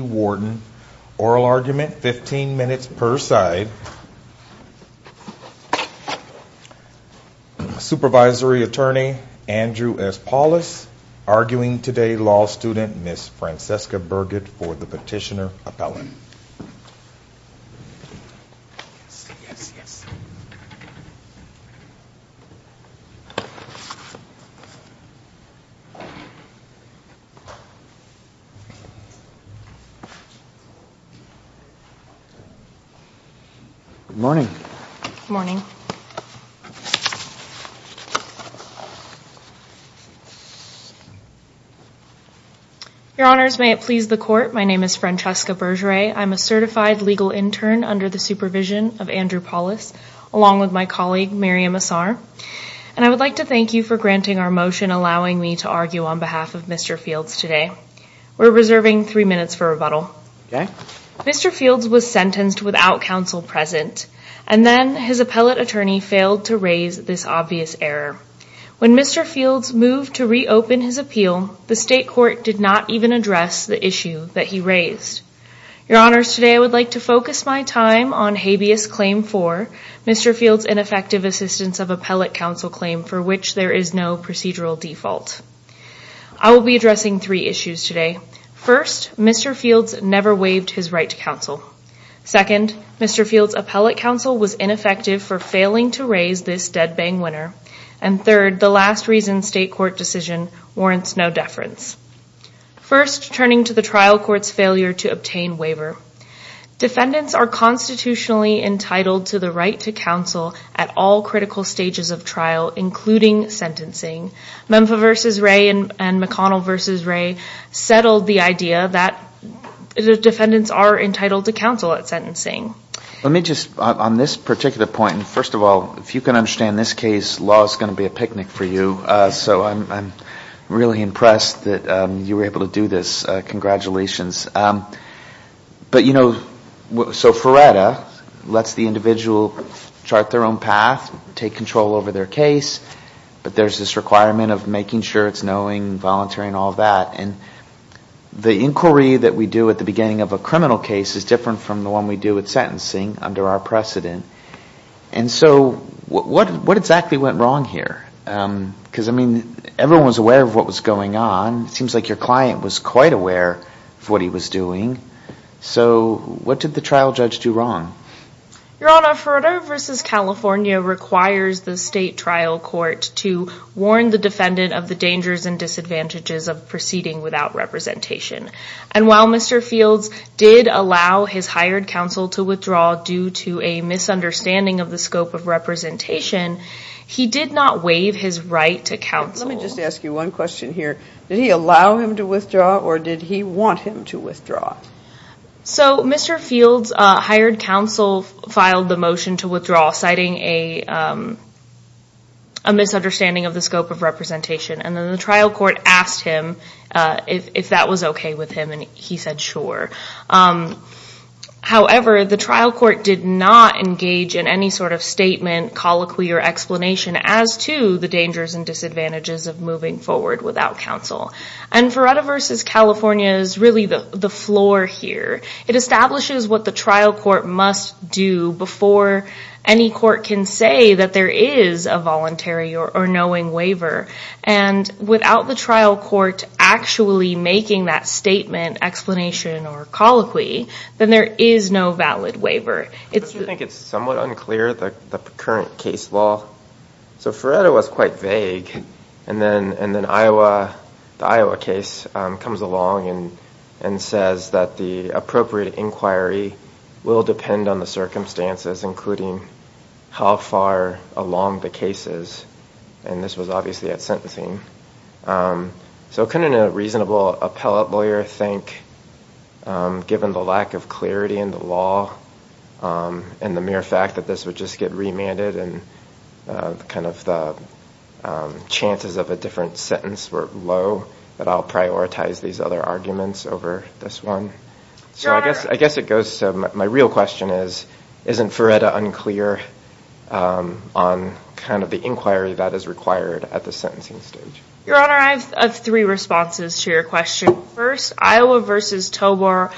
Warden, oral argument fifteen minutes per side. Supervisory attorney Andrew S. Paulus, arguing today law student Ms. Francesca Burgett for the petitioner appellate. Yes, yes, yes. Good morning. Good morning. Your honors, may it please the court, my name is Francesca Burgett. I'm a certified legal intern under the supervision of Andrew Paulus, along with my colleague Miriam Assar. And I would like to thank you for granting our motion, allowing me to argue on behalf of Mr. Fields today. We're reserving three minutes for rebuttal. Mr. Fields was sentenced without counsel present, and then his appellate attorney failed to raise this obvious error. When Mr. Fields moved to reopen his appeal, the state court did not even address the issue that he raised. Your honors, today I would like to focus my time on habeas claim four, Mr. Fields' ineffective assistance of appellate counsel claim for which there is no procedural default. I will be addressing three issues today. First, Mr. Fields never waived his right to counsel. Second, Mr. Fields' appellate counsel was ineffective for failing to raise this dead-bang winner. And third, the last reason state court decision warrants no deference. First, turning to the trial court's failure to obtain waiver. Defendants are constitutionally entitled to the right to counsel at all critical stages of trial, including sentencing. Memphis v. Ray and McConnell v. Ray settled the idea that defendants are entitled to counsel at sentencing. Let me just, on this particular point, first of all, if you can understand this case, law is going to be a picnic for you. So I'm really impressed that you were able to do this. Congratulations. But, you know, so FRERETA lets the individual chart their own path, take control over their case, but there's this requirement of making sure it's knowing, and the inquiry that we do at the beginning of a criminal case is different from the one we do at sentencing under our precedent. And so what exactly went wrong here? Because, I mean, everyone was aware of what was going on. It seems like your client was quite aware of what he was doing. So what did the trial judge do wrong? Your Honor, FRERETA v. California requires the state trial court to warn the defendant of the dangers and disadvantages of proceeding without representation. And while Mr. Fields did allow his hired counsel to withdraw due to a misunderstanding of the scope of representation, he did not waive his right to counsel. Let me just ask you one question here. Did he allow him to withdraw, or did he want him to withdraw? So Mr. Fields' hired counsel filed the motion to withdraw, citing a misunderstanding of the scope of representation, and then the trial court asked him if that was okay with him, and he said sure. However, the trial court did not engage in any sort of statement, colloquy, or explanation as to the dangers and disadvantages of moving forward without counsel. And FRERETA v. California is really the floor here. It establishes what the trial court must do before any court can say that there is a voluntary or knowing waiver. And without the trial court actually making that statement, explanation, or colloquy, then there is no valid waiver. Does he think it's somewhat unclear, the current case law? So FRERETA was quite vague, and then the Iowa case comes along and says that the appropriate inquiry will depend on the circumstances, including how far along the case is. And this was obviously at sentencing. So couldn't a reasonable appellate lawyer think, given the lack of clarity in the law and the mere fact that this would just get remanded and kind of the chances of a different sentence were low, that I'll prioritize these other arguments over this one? So I guess it goes to my real question is, isn't FRERETA unclear on kind of the inquiry that is required at the sentencing stage? Your Honor, I have three responses to your question. First, Iowa v. Tovar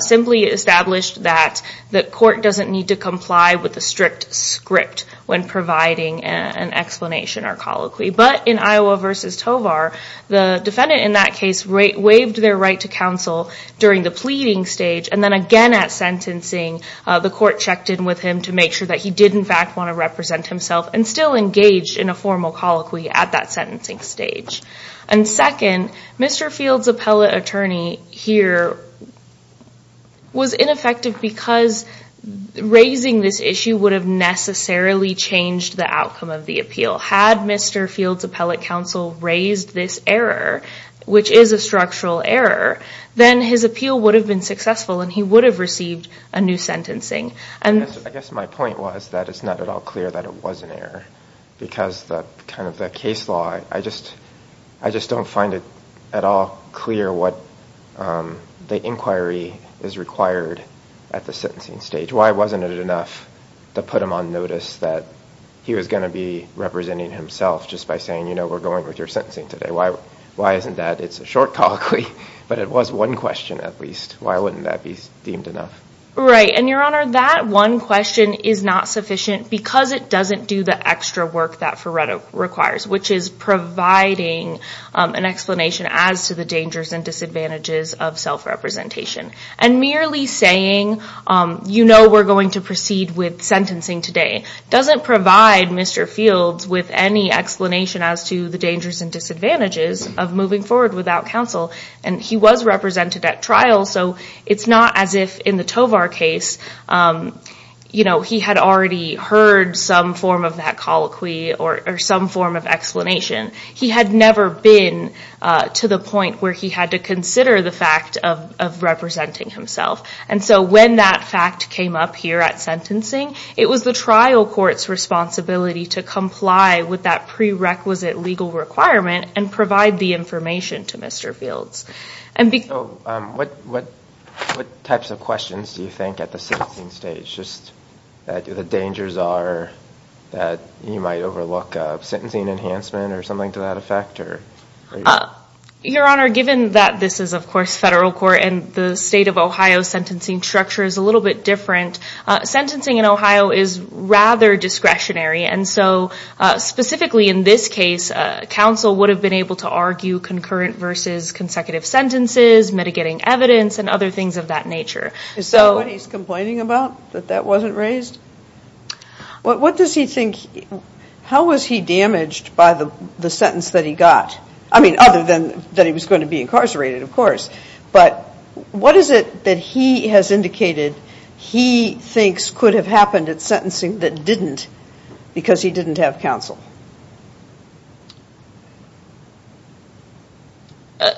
simply established that the court doesn't need to comply with a strict script when providing an explanation or colloquy. But in Iowa v. Tovar, the defendant in that case waived their right to counsel during the pleading stage, and then again at sentencing, the court checked in with him to make sure that he did in fact want to represent himself and still engaged in a formal colloquy at that sentencing stage. And second, Mr. Field's appellate attorney here was ineffective because raising this issue would have necessarily changed the outcome of the appeal. Had Mr. Field's appellate counsel raised this error, which is a structural error, then his appeal would have been successful and he would have received a new sentencing. I guess my point was that it's not at all clear that it was an error because kind of the case law, I just don't find it at all clear what the inquiry is required at the sentencing stage. Why wasn't it enough to put him on notice that he was going to be representing himself just by saying, you know, we're going with your sentencing today? Why isn't that? It's a short colloquy, but it was one question at least. Why wouldn't that be deemed enough? Right, and Your Honor, that one question is not sufficient because it doesn't do the extra work that Ferretto requires, which is providing an explanation as to the dangers and disadvantages of self-representation. And merely saying, you know we're going to proceed with sentencing today doesn't provide Mr. Field with any explanation as to the dangers and disadvantages of moving forward without counsel. And he was represented at trial, so it's not as if in the Tovar case he had already heard some form of that colloquy or some form of explanation. He had never been to the point where he had to consider the fact of representing himself. And so when that fact came up here at sentencing, it was the trial court's responsibility to comply with that prerequisite legal requirement and provide the information to Mr. Fields. So what types of questions do you think at the sentencing stage, the dangers are that you might overlook sentencing enhancement or something to that effect? Your Honor, given that this is of course federal court and the state of Ohio's sentencing structure is a little bit different, sentencing in Ohio is rather discretionary. And so specifically in this case, counsel would have been able to argue concurrent versus consecutive sentences, mitigating evidence and other things of that nature. Is that what he's complaining about, that that wasn't raised? What does he think, how was he damaged by the sentence that he got? I mean, other than that he was going to be incarcerated, of course. But what is it that he has indicated he thinks could have happened at sentencing that didn't, because he didn't have counsel?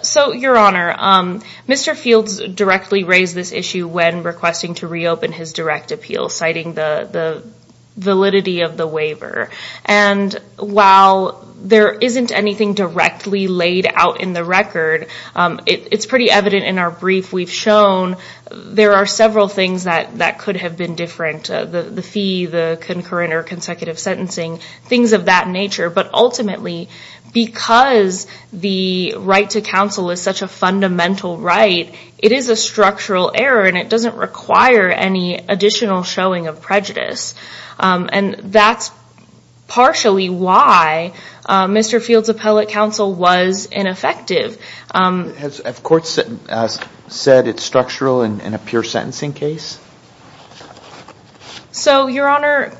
So, Your Honor, Mr. Fields directly raised this issue when requesting to reopen his direct appeal, citing the validity of the waiver. And while there isn't anything directly laid out in the record, it's pretty evident in our brief we've shown there are several things that could have been different. The fee, the concurrent or consecutive sentencing, things of that nature. But ultimately, because the right to counsel is such a fundamental right, it is a structural error and it doesn't require any additional showing of prejudice. And that's partially why Mr. Fields' appellate counsel was ineffective. Has court said it's structural in a pure sentencing case? So, Your Honor,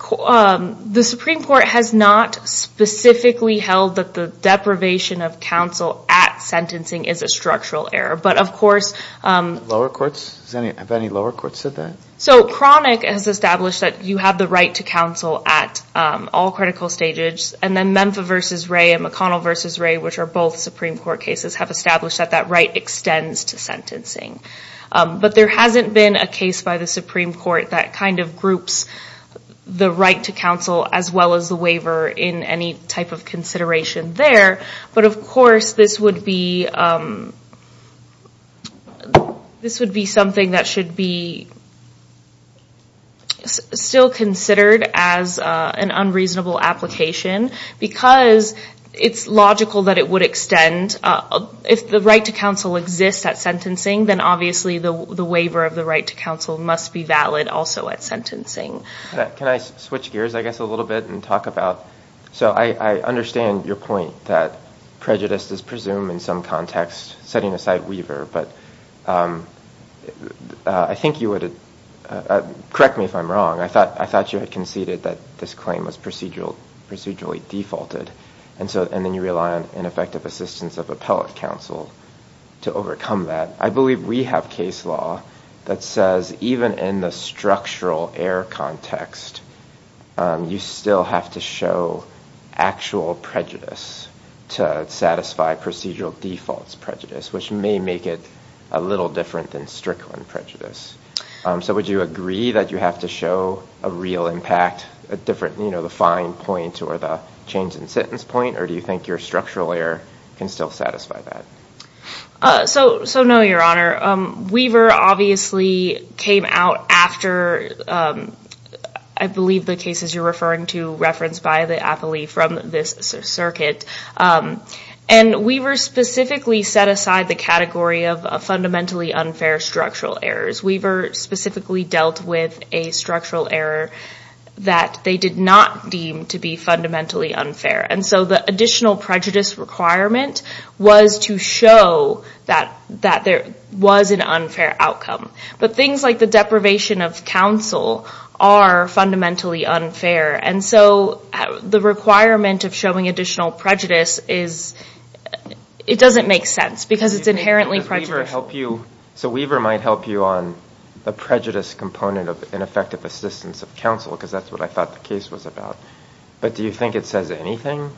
the Supreme Court has not specifically held that the deprivation of counsel at sentencing is a structural error. But, of course... Lower courts? Have any lower courts said that? So, Cronic has established that you have the right to counsel at all critical stages. And then Memphis v. Ray and McConnell v. Ray, which are both Supreme Court cases, have established that that right extends to sentencing. But there hasn't been a case by the Supreme Court that kind of groups the right to counsel as well as the waiver in any type of consideration there. But, of course, this would be something that should be still considered as an unreasonable application because it's logical that it would extend. And if the right to counsel exists at sentencing, then obviously the waiver of the right to counsel must be valid also at sentencing. Can I switch gears, I guess, a little bit and talk about... So I understand your point that prejudice is presumed in some context, setting aside Weaver, but I think you would... Correct me if I'm wrong. I thought you had conceded that this claim was procedurally defaulted. And then you rely on ineffective assistance of appellate counsel to overcome that. I believe we have case law that says even in the structural error context, you still have to show actual prejudice to satisfy procedural defaults prejudice, which may make it a little different than Strickland prejudice. So would you agree that you have to show a real impact, the fine point or the change in sentence point, or do you think your structural error can still satisfy that? So no, Your Honor. Weaver obviously came out after, I believe, the cases you're referring to referenced by the appellee from this circuit. And Weaver specifically set aside the category of fundamentally unfair structural errors. Weaver specifically dealt with a structural error that they did not deem to be fundamentally unfair. And so the additional prejudice requirement was to show that there was an unfair outcome. But things like the deprivation of counsel are fundamentally unfair. And so the requirement of showing additional prejudice is... It doesn't make sense because it's inherently prejudiced. So Weaver might help you on the prejudice component of ineffective assistance of counsel, because that's what I thought the case was about. But do you think it says anything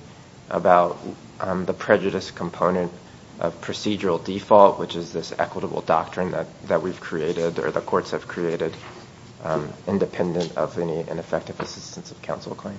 about the prejudice component of procedural default, which is this equitable doctrine that we've created or the courts have created, independent of any ineffective assistance of counsel claim?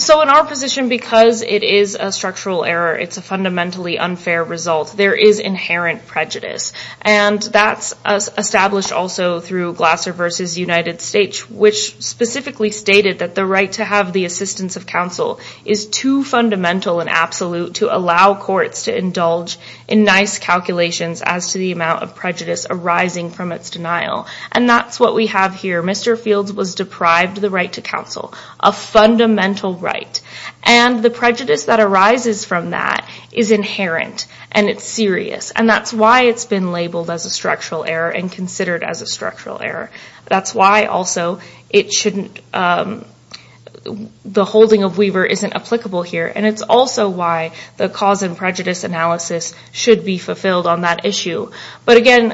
So in our position, because it is a structural error, it's a fundamentally unfair result, there is inherent prejudice. And that's established also through Glasser v. United States, which specifically stated that the right to have the assistance of counsel is too fundamental and absolute to allow courts to indulge in nice calculations as to the amount of prejudice arising from its denial. And that's what we have here. Mr. Fields was deprived the right to counsel, a fundamental right. And the prejudice that arises from that is inherent and it's serious. And that's why it's been labeled as a structural error and considered as a structural error. That's why also it shouldn't... The holding of Weaver isn't applicable here. And it's also why the cause and prejudice analysis should be fulfilled on that issue. But again,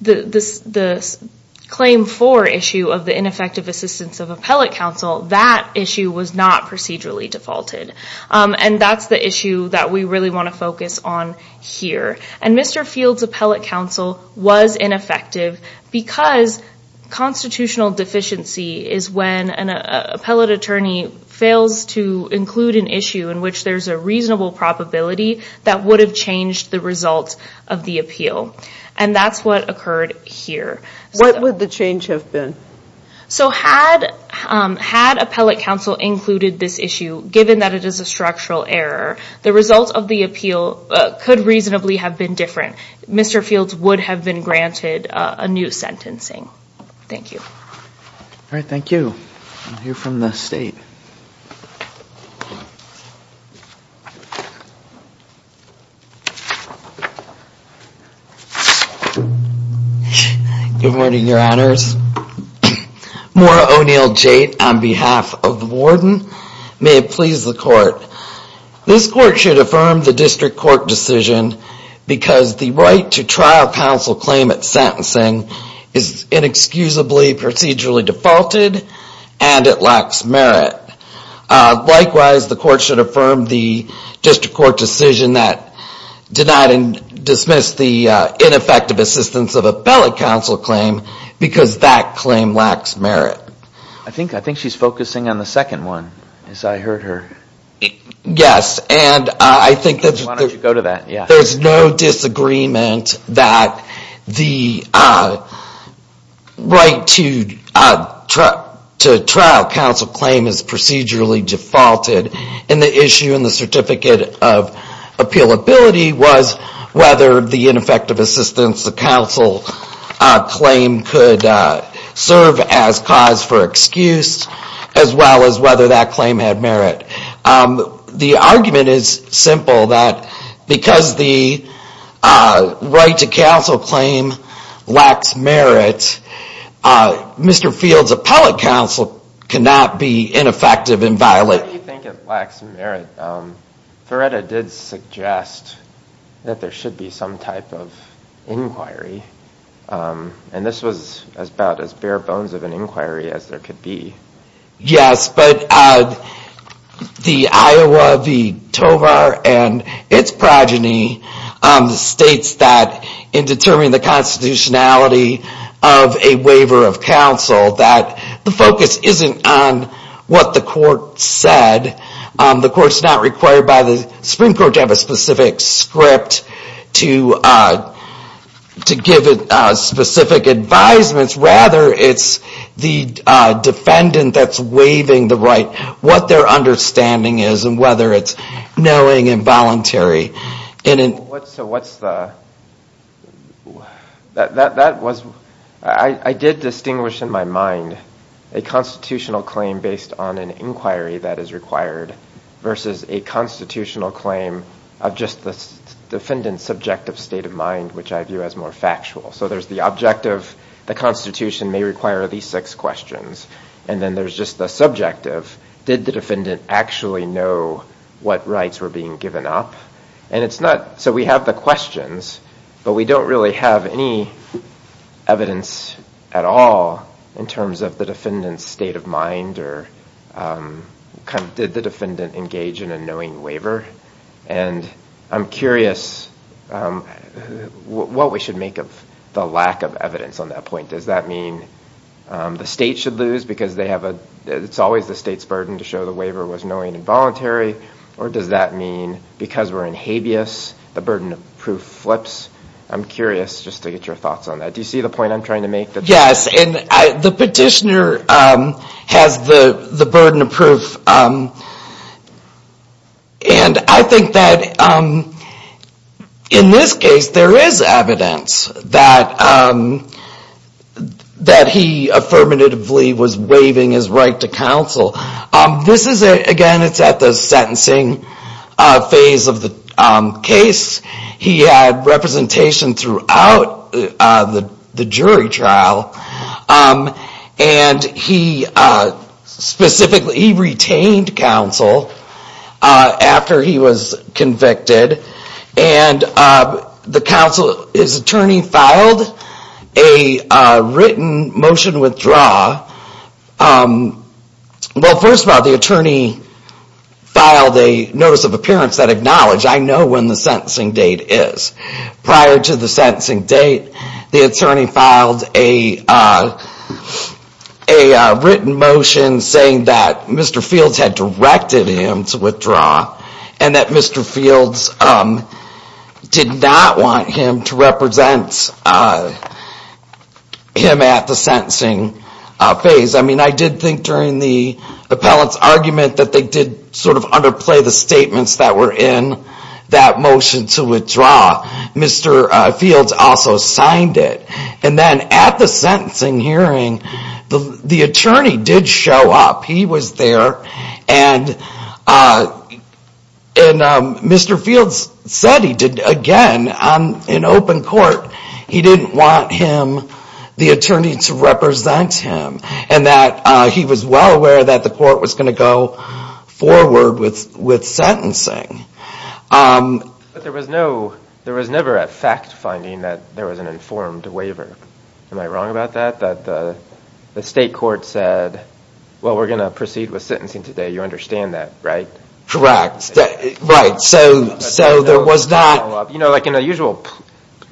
the claim for issue of the ineffective assistance of appellate counsel, that issue was not procedurally defaulted. And that's the issue that we really want to focus on here. And Mr. Fields' appellate counsel was ineffective because constitutional deficiency is when an appellate attorney fails to include an issue in which there's a reasonable probability that would have changed the results of the appeal. And that's what occurred here. What would the change have been? So had appellate counsel included this issue, given that it is a structural error, the results of the appeal could reasonably have been different. Mr. Fields would have been granted a new sentencing. Thank you. All right. Thank you. I'll hear from the state. Good morning, Your Honors. Maura O'Neil-Jade on behalf of the warden. May it please the court. This court should affirm the district court decision because the right to trial counsel claimant sentencing is inexcusably procedurally defaulted and it lacks merit. Likewise, the court should affirm the district court decision that denied and dismissed the ineffective assistance of appellate counsel claim because that claim lacks merit. I think she's focusing on the second one, as I heard her. Yes. Why don't you go to that? There's no disagreement that the right to trial counsel claim is procedurally defaulted. And the issue in the Certificate of Appealability was whether the ineffective assistance of counsel claim could serve as cause for excuse as well as whether that claim had merit. The argument is simple that because the right to counsel claim lacks merit, Mr. Field's appellate counsel cannot be ineffective and violated. What do you think it lacks merit? Feretta did suggest that there should be some type of inquiry. And this was about as bare bones of an inquiry as there could be. Yes, but the Iowa v. Tovar and its progeny states that in determining the constitutionality of a waiver of counsel that the focus isn't on what the court said. The Supreme Court doesn't have a specific script to give it specific advisements. Rather, it's the defendant that's waiving the right, what their understanding is and whether it's knowing and voluntary. So what's the... That was... I did distinguish in my mind a constitutional claim based on an inquiry that is required versus a constitutional claim of just the defendant's subjective state of mind, which I view as more factual. So there's the objective, the constitution may require these six questions. And then there's just the subjective, did the defendant actually know what rights were being given up? And it's not... So we have the questions, but we don't really have any evidence at all in terms of the defendant's state of mind or did the defendant engage in a knowing waiver? And I'm curious what we should make of the lack of evidence on that point. Does that mean the state should lose because they have a... It's always the state's burden to show the waiver was knowing and voluntary or does that mean because we're in habeas, the burden of proof flips? I'm curious just to get your thoughts on that. Do you see the point I'm trying to make? Yes, and the petitioner has the burden of proof and I think that in this case there is evidence that he affirmatively was waiving his right to counsel. This is, again, it's at the sentencing phase of the case. He had representation throughout the jury trial and he specifically retained counsel after he was convicted and the counsel, his attorney filed a written motion withdraw. Well, first of all, the attorney filed a notice of appearance that acknowledged, I know when the sentencing date is. Prior to the sentencing date, the attorney filed a written motion saying that Mr. Fields had directed him to withdraw and that Mr. Fields did not want him to represent him at the sentencing phase. I mean, I did think during the appellant's argument that they did sort of underplay the statements that were in that motion to withdraw. Mr. Fields also signed it. And then at the sentencing hearing, the attorney did show up. He was there and Mr. Fields said he did, again, in open court, he didn't want him, the attorney, to represent him and that he was well aware that the court was going to go forward with sentencing. But there was never a fact finding that there was an informed waiver. Am I wrong about that? That the state court said, well, we're going to proceed with sentencing today. You understand that, right? Correct. Right. So there was not... You know, like in a usual,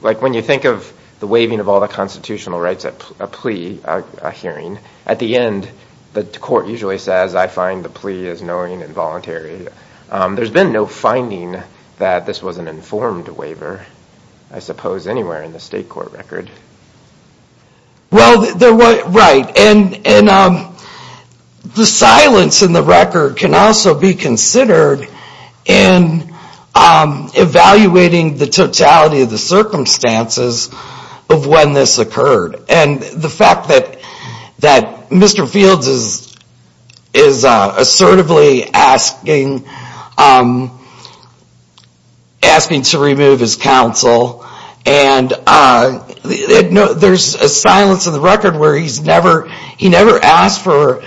like when you think of the waiving of all the constitutional rights, a plea, a hearing, at the end, the court usually says, I find the plea is knowing and voluntary. There's been no finding that this was an informed waiver, I suppose, anywhere in the state court record. Well, right. And the silence in the record can also be considered in evaluating the totality of the circumstances of when this occurred. And the fact that Mr. Fields is assertively asking to remove his counsel and there's a silence in the record where he's never asked to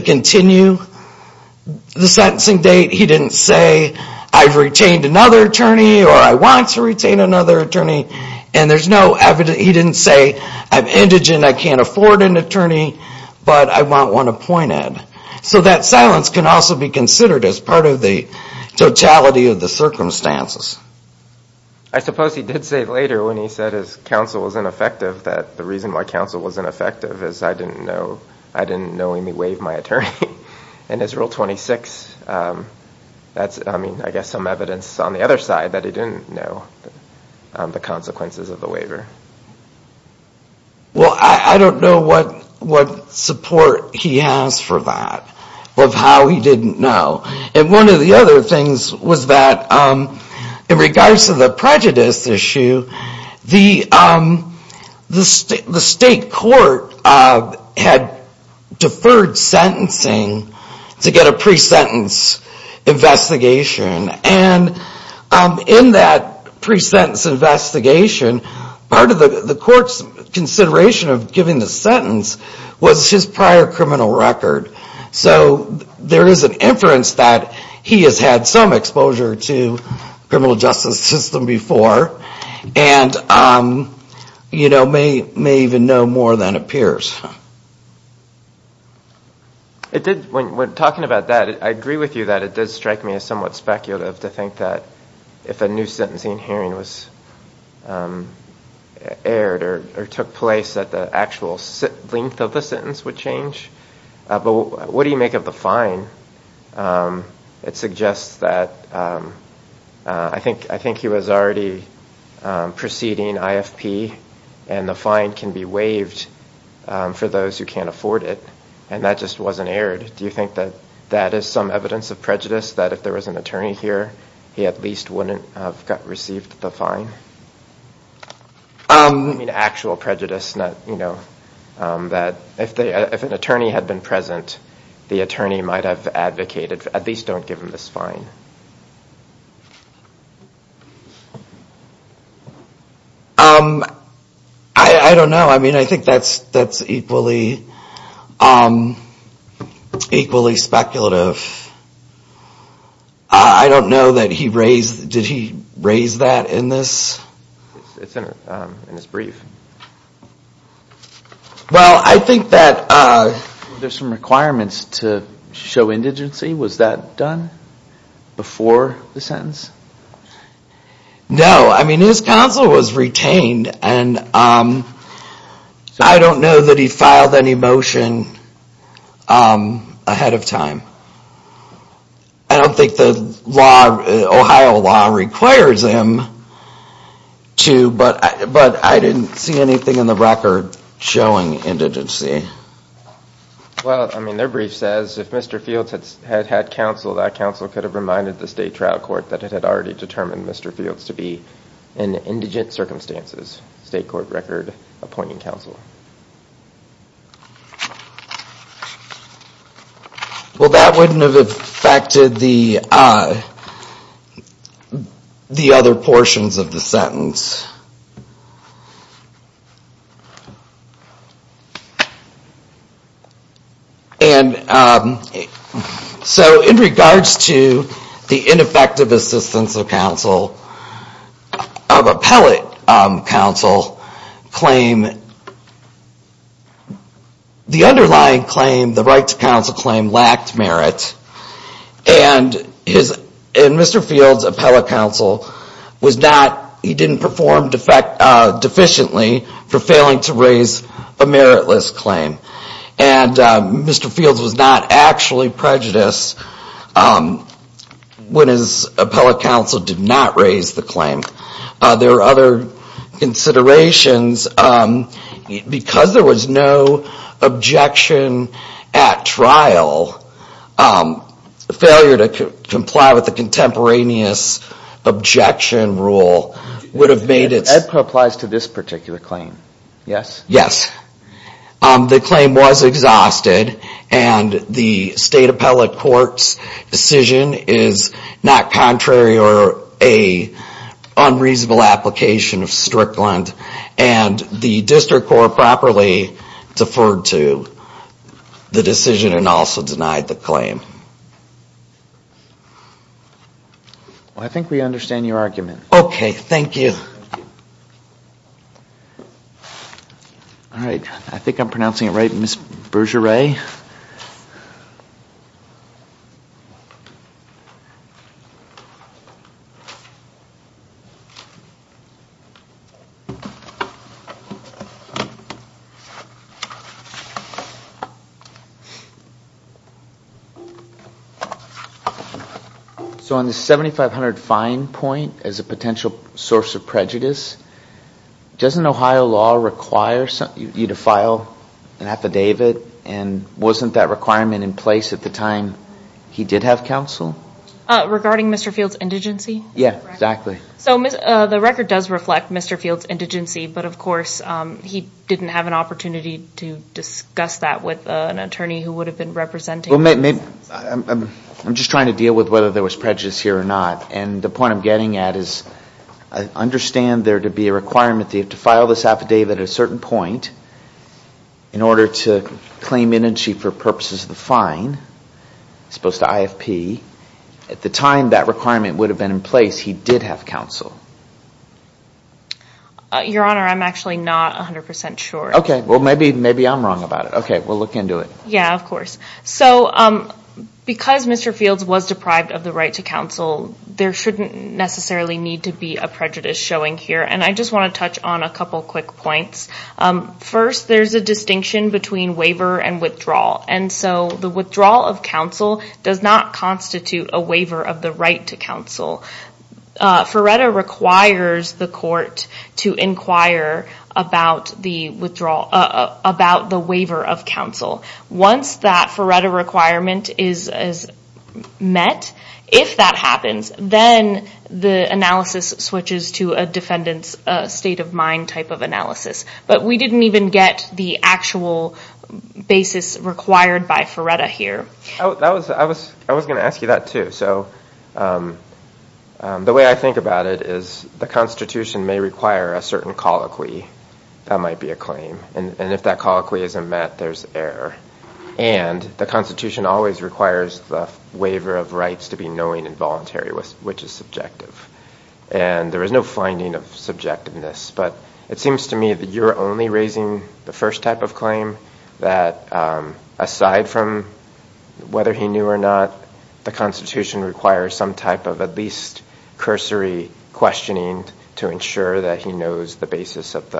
continue the sentencing date. He didn't say, I've retained another attorney or I want to retain another attorney. And there's no evidence... He didn't say, I'm indigent, I can't afford an attorney, but I want one appointed. So that silence can also be considered as part of the totality of the circumstances. I suppose he did say later when he said his counsel was ineffective that the reason why counsel was ineffective is I didn't know... I didn't know he may waive my attorney. And as rule 26, that's, I mean, I guess some evidence on the other side that he didn't know the consequences of the waiver. Well, I don't know what support he has for that, of how he didn't know. And one of the other things was that in regards to the prejudice issue, the state court had deferred sentencing to get a pre-sentence investigation. And in that pre-sentence investigation, part of the court's consideration of giving the sentence was his prior criminal record. So there is an inference that he has had some exposure to the criminal justice system before and may even know more than appears. When talking about that, I agree with you that it does strike me as somewhat speculative to think that if a new sentencing hearing was aired or took place that the actual length of the sentence would change. But what do you make of the fine? It suggests that... I think he was already preceding IFP and the fine can be waived for those who can't afford it. And that just wasn't aired. Do you think that that is some evidence of prejudice that if there was an attorney here, he at least wouldn't have received the fine? I mean, actual prejudice. If an attorney had been present, the attorney might have advocated at least don't give him this fine. I don't know. I mean, I think that's equally speculative. I don't know that he raised... Did he raise that in this brief? Well, I think that there are some requirements to show indigency. Was that done? Before the sentence? No, I mean, his counsel was retained and I don't know that he filed any motion ahead of time. I don't think the Ohio law requires him to, but I didn't see anything in the record showing indigency. Well, I mean, their brief says if Mr. Fields had had counsel, that counsel could have reminded the state trial court that it had already determined Mr. Fields to be in indigent circumstances. State court record appointing counsel. Well, that wouldn't have affected the other portions of the sentence. And so, in regards to the ineffective assistance of counsel of appellate counsel claim the underlying claim, the right to counsel claim lacked merit and Mr. Fields' appellate counsel was not, he didn't perform deficiently for failing to raise a meritless claim. And Mr. Fields was not actually prejudiced when his appellate counsel did not raise the claim. There were other considerations because there was no objection at trial, failure to comply with the contemporaneous objection rule would have made it... Edpa applies to this particular claim, yes? Yes. The claim was exhausted and the state appellate court's decision is not contrary or a unreasonable application of Strickland and the district court properly deferred to the decision and also denied the claim. Well, I think we understand your argument. Okay. Thank you. All right. I think I'm pronouncing it right, Ms. Bergeret? So on the 7500 fine point as a potential source of prejudice, doesn't Ohio law require you to file an affidavit and wasn't that requirement in place at the time he did have counsel? Regarding Mr. Fields' indigency? Yeah, exactly. So the record does reflect Mr. Fields' indigency, but of course he didn't have an opportunity to discuss that with an attorney who would have been I'm just trying to deal with whether there was prejudice here or not. And the point I'm getting at is I understand there to be a requirement that you have to file this affidavit at a certain point in order to claim indigency for purposes of the fine as opposed to IFP. At the time that requirement would have been in place, he did have counsel. Your Honor, I'm actually not 100% sure. Okay, well maybe I'm wrong about it. Yeah, of course. So because Mr. Fields was deprived of the right to counsel, there shouldn't necessarily need to be a prejudice showing here. And I just want to touch on a couple quick points. First, there's a distinction between waiver and withdrawal. And so the withdrawal of counsel does not constitute a waiver of the right to counsel. Ferretta requires the court to inquire about the waiver of counsel. Once that Ferretta requirement is met, if that happens, then the analysis switches to a defendant's state of mind type of analysis. But we didn't even get the actual basis required by Ferretta here. I was going to ask you that too. The way I think about it is the Constitution may require a certain colloquy that might be a claim. And if that colloquy isn't met, there's error. And the Constitution always requires the waiver of rights to be knowing and voluntary, which is subjective. And there is no finding of subjectiveness. But it seems to me that you're only raising the first type of claim that aside from whether he knew or not, the Constitution requires some type of at least cursory questioning to ensure that he knows the basis of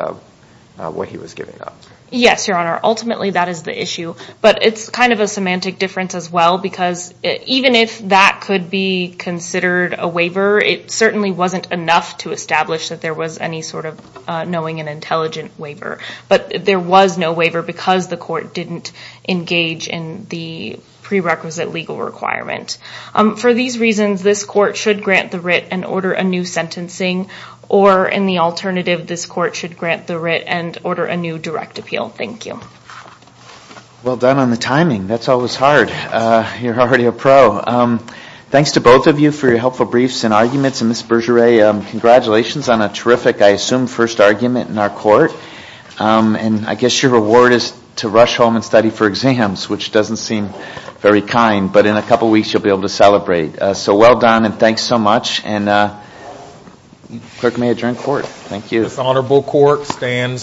what he was giving up. Yes, Your Honor. Ultimately, that is the issue. But it's kind of a semantic difference as well because even if that could be considered a waiver, it certainly wasn't enough to establish that there was any sort of knowing and intelligent waiver. But there was no waiver because the court didn't engage in the prerequisite legal requirement. For these reasons, this court should grant the writ and order a new sentencing. Or in the alternative, this court should grant the writ and order a new direct appeal. Thank you. Well done on the timing. That's always hard. You're already a pro. Thanks to both of you for your helpful briefs and arguments. And Ms. Bergeret, congratulations on a terrific, I assume, first argument in our court. And I guess your reward is to rush home and study for exams, which doesn't seem very kind. But in a couple weeks, you'll be able to celebrate. So well done and thanks so much. Clerk may adjourn court. Thank you. This honorable court stands adjourned.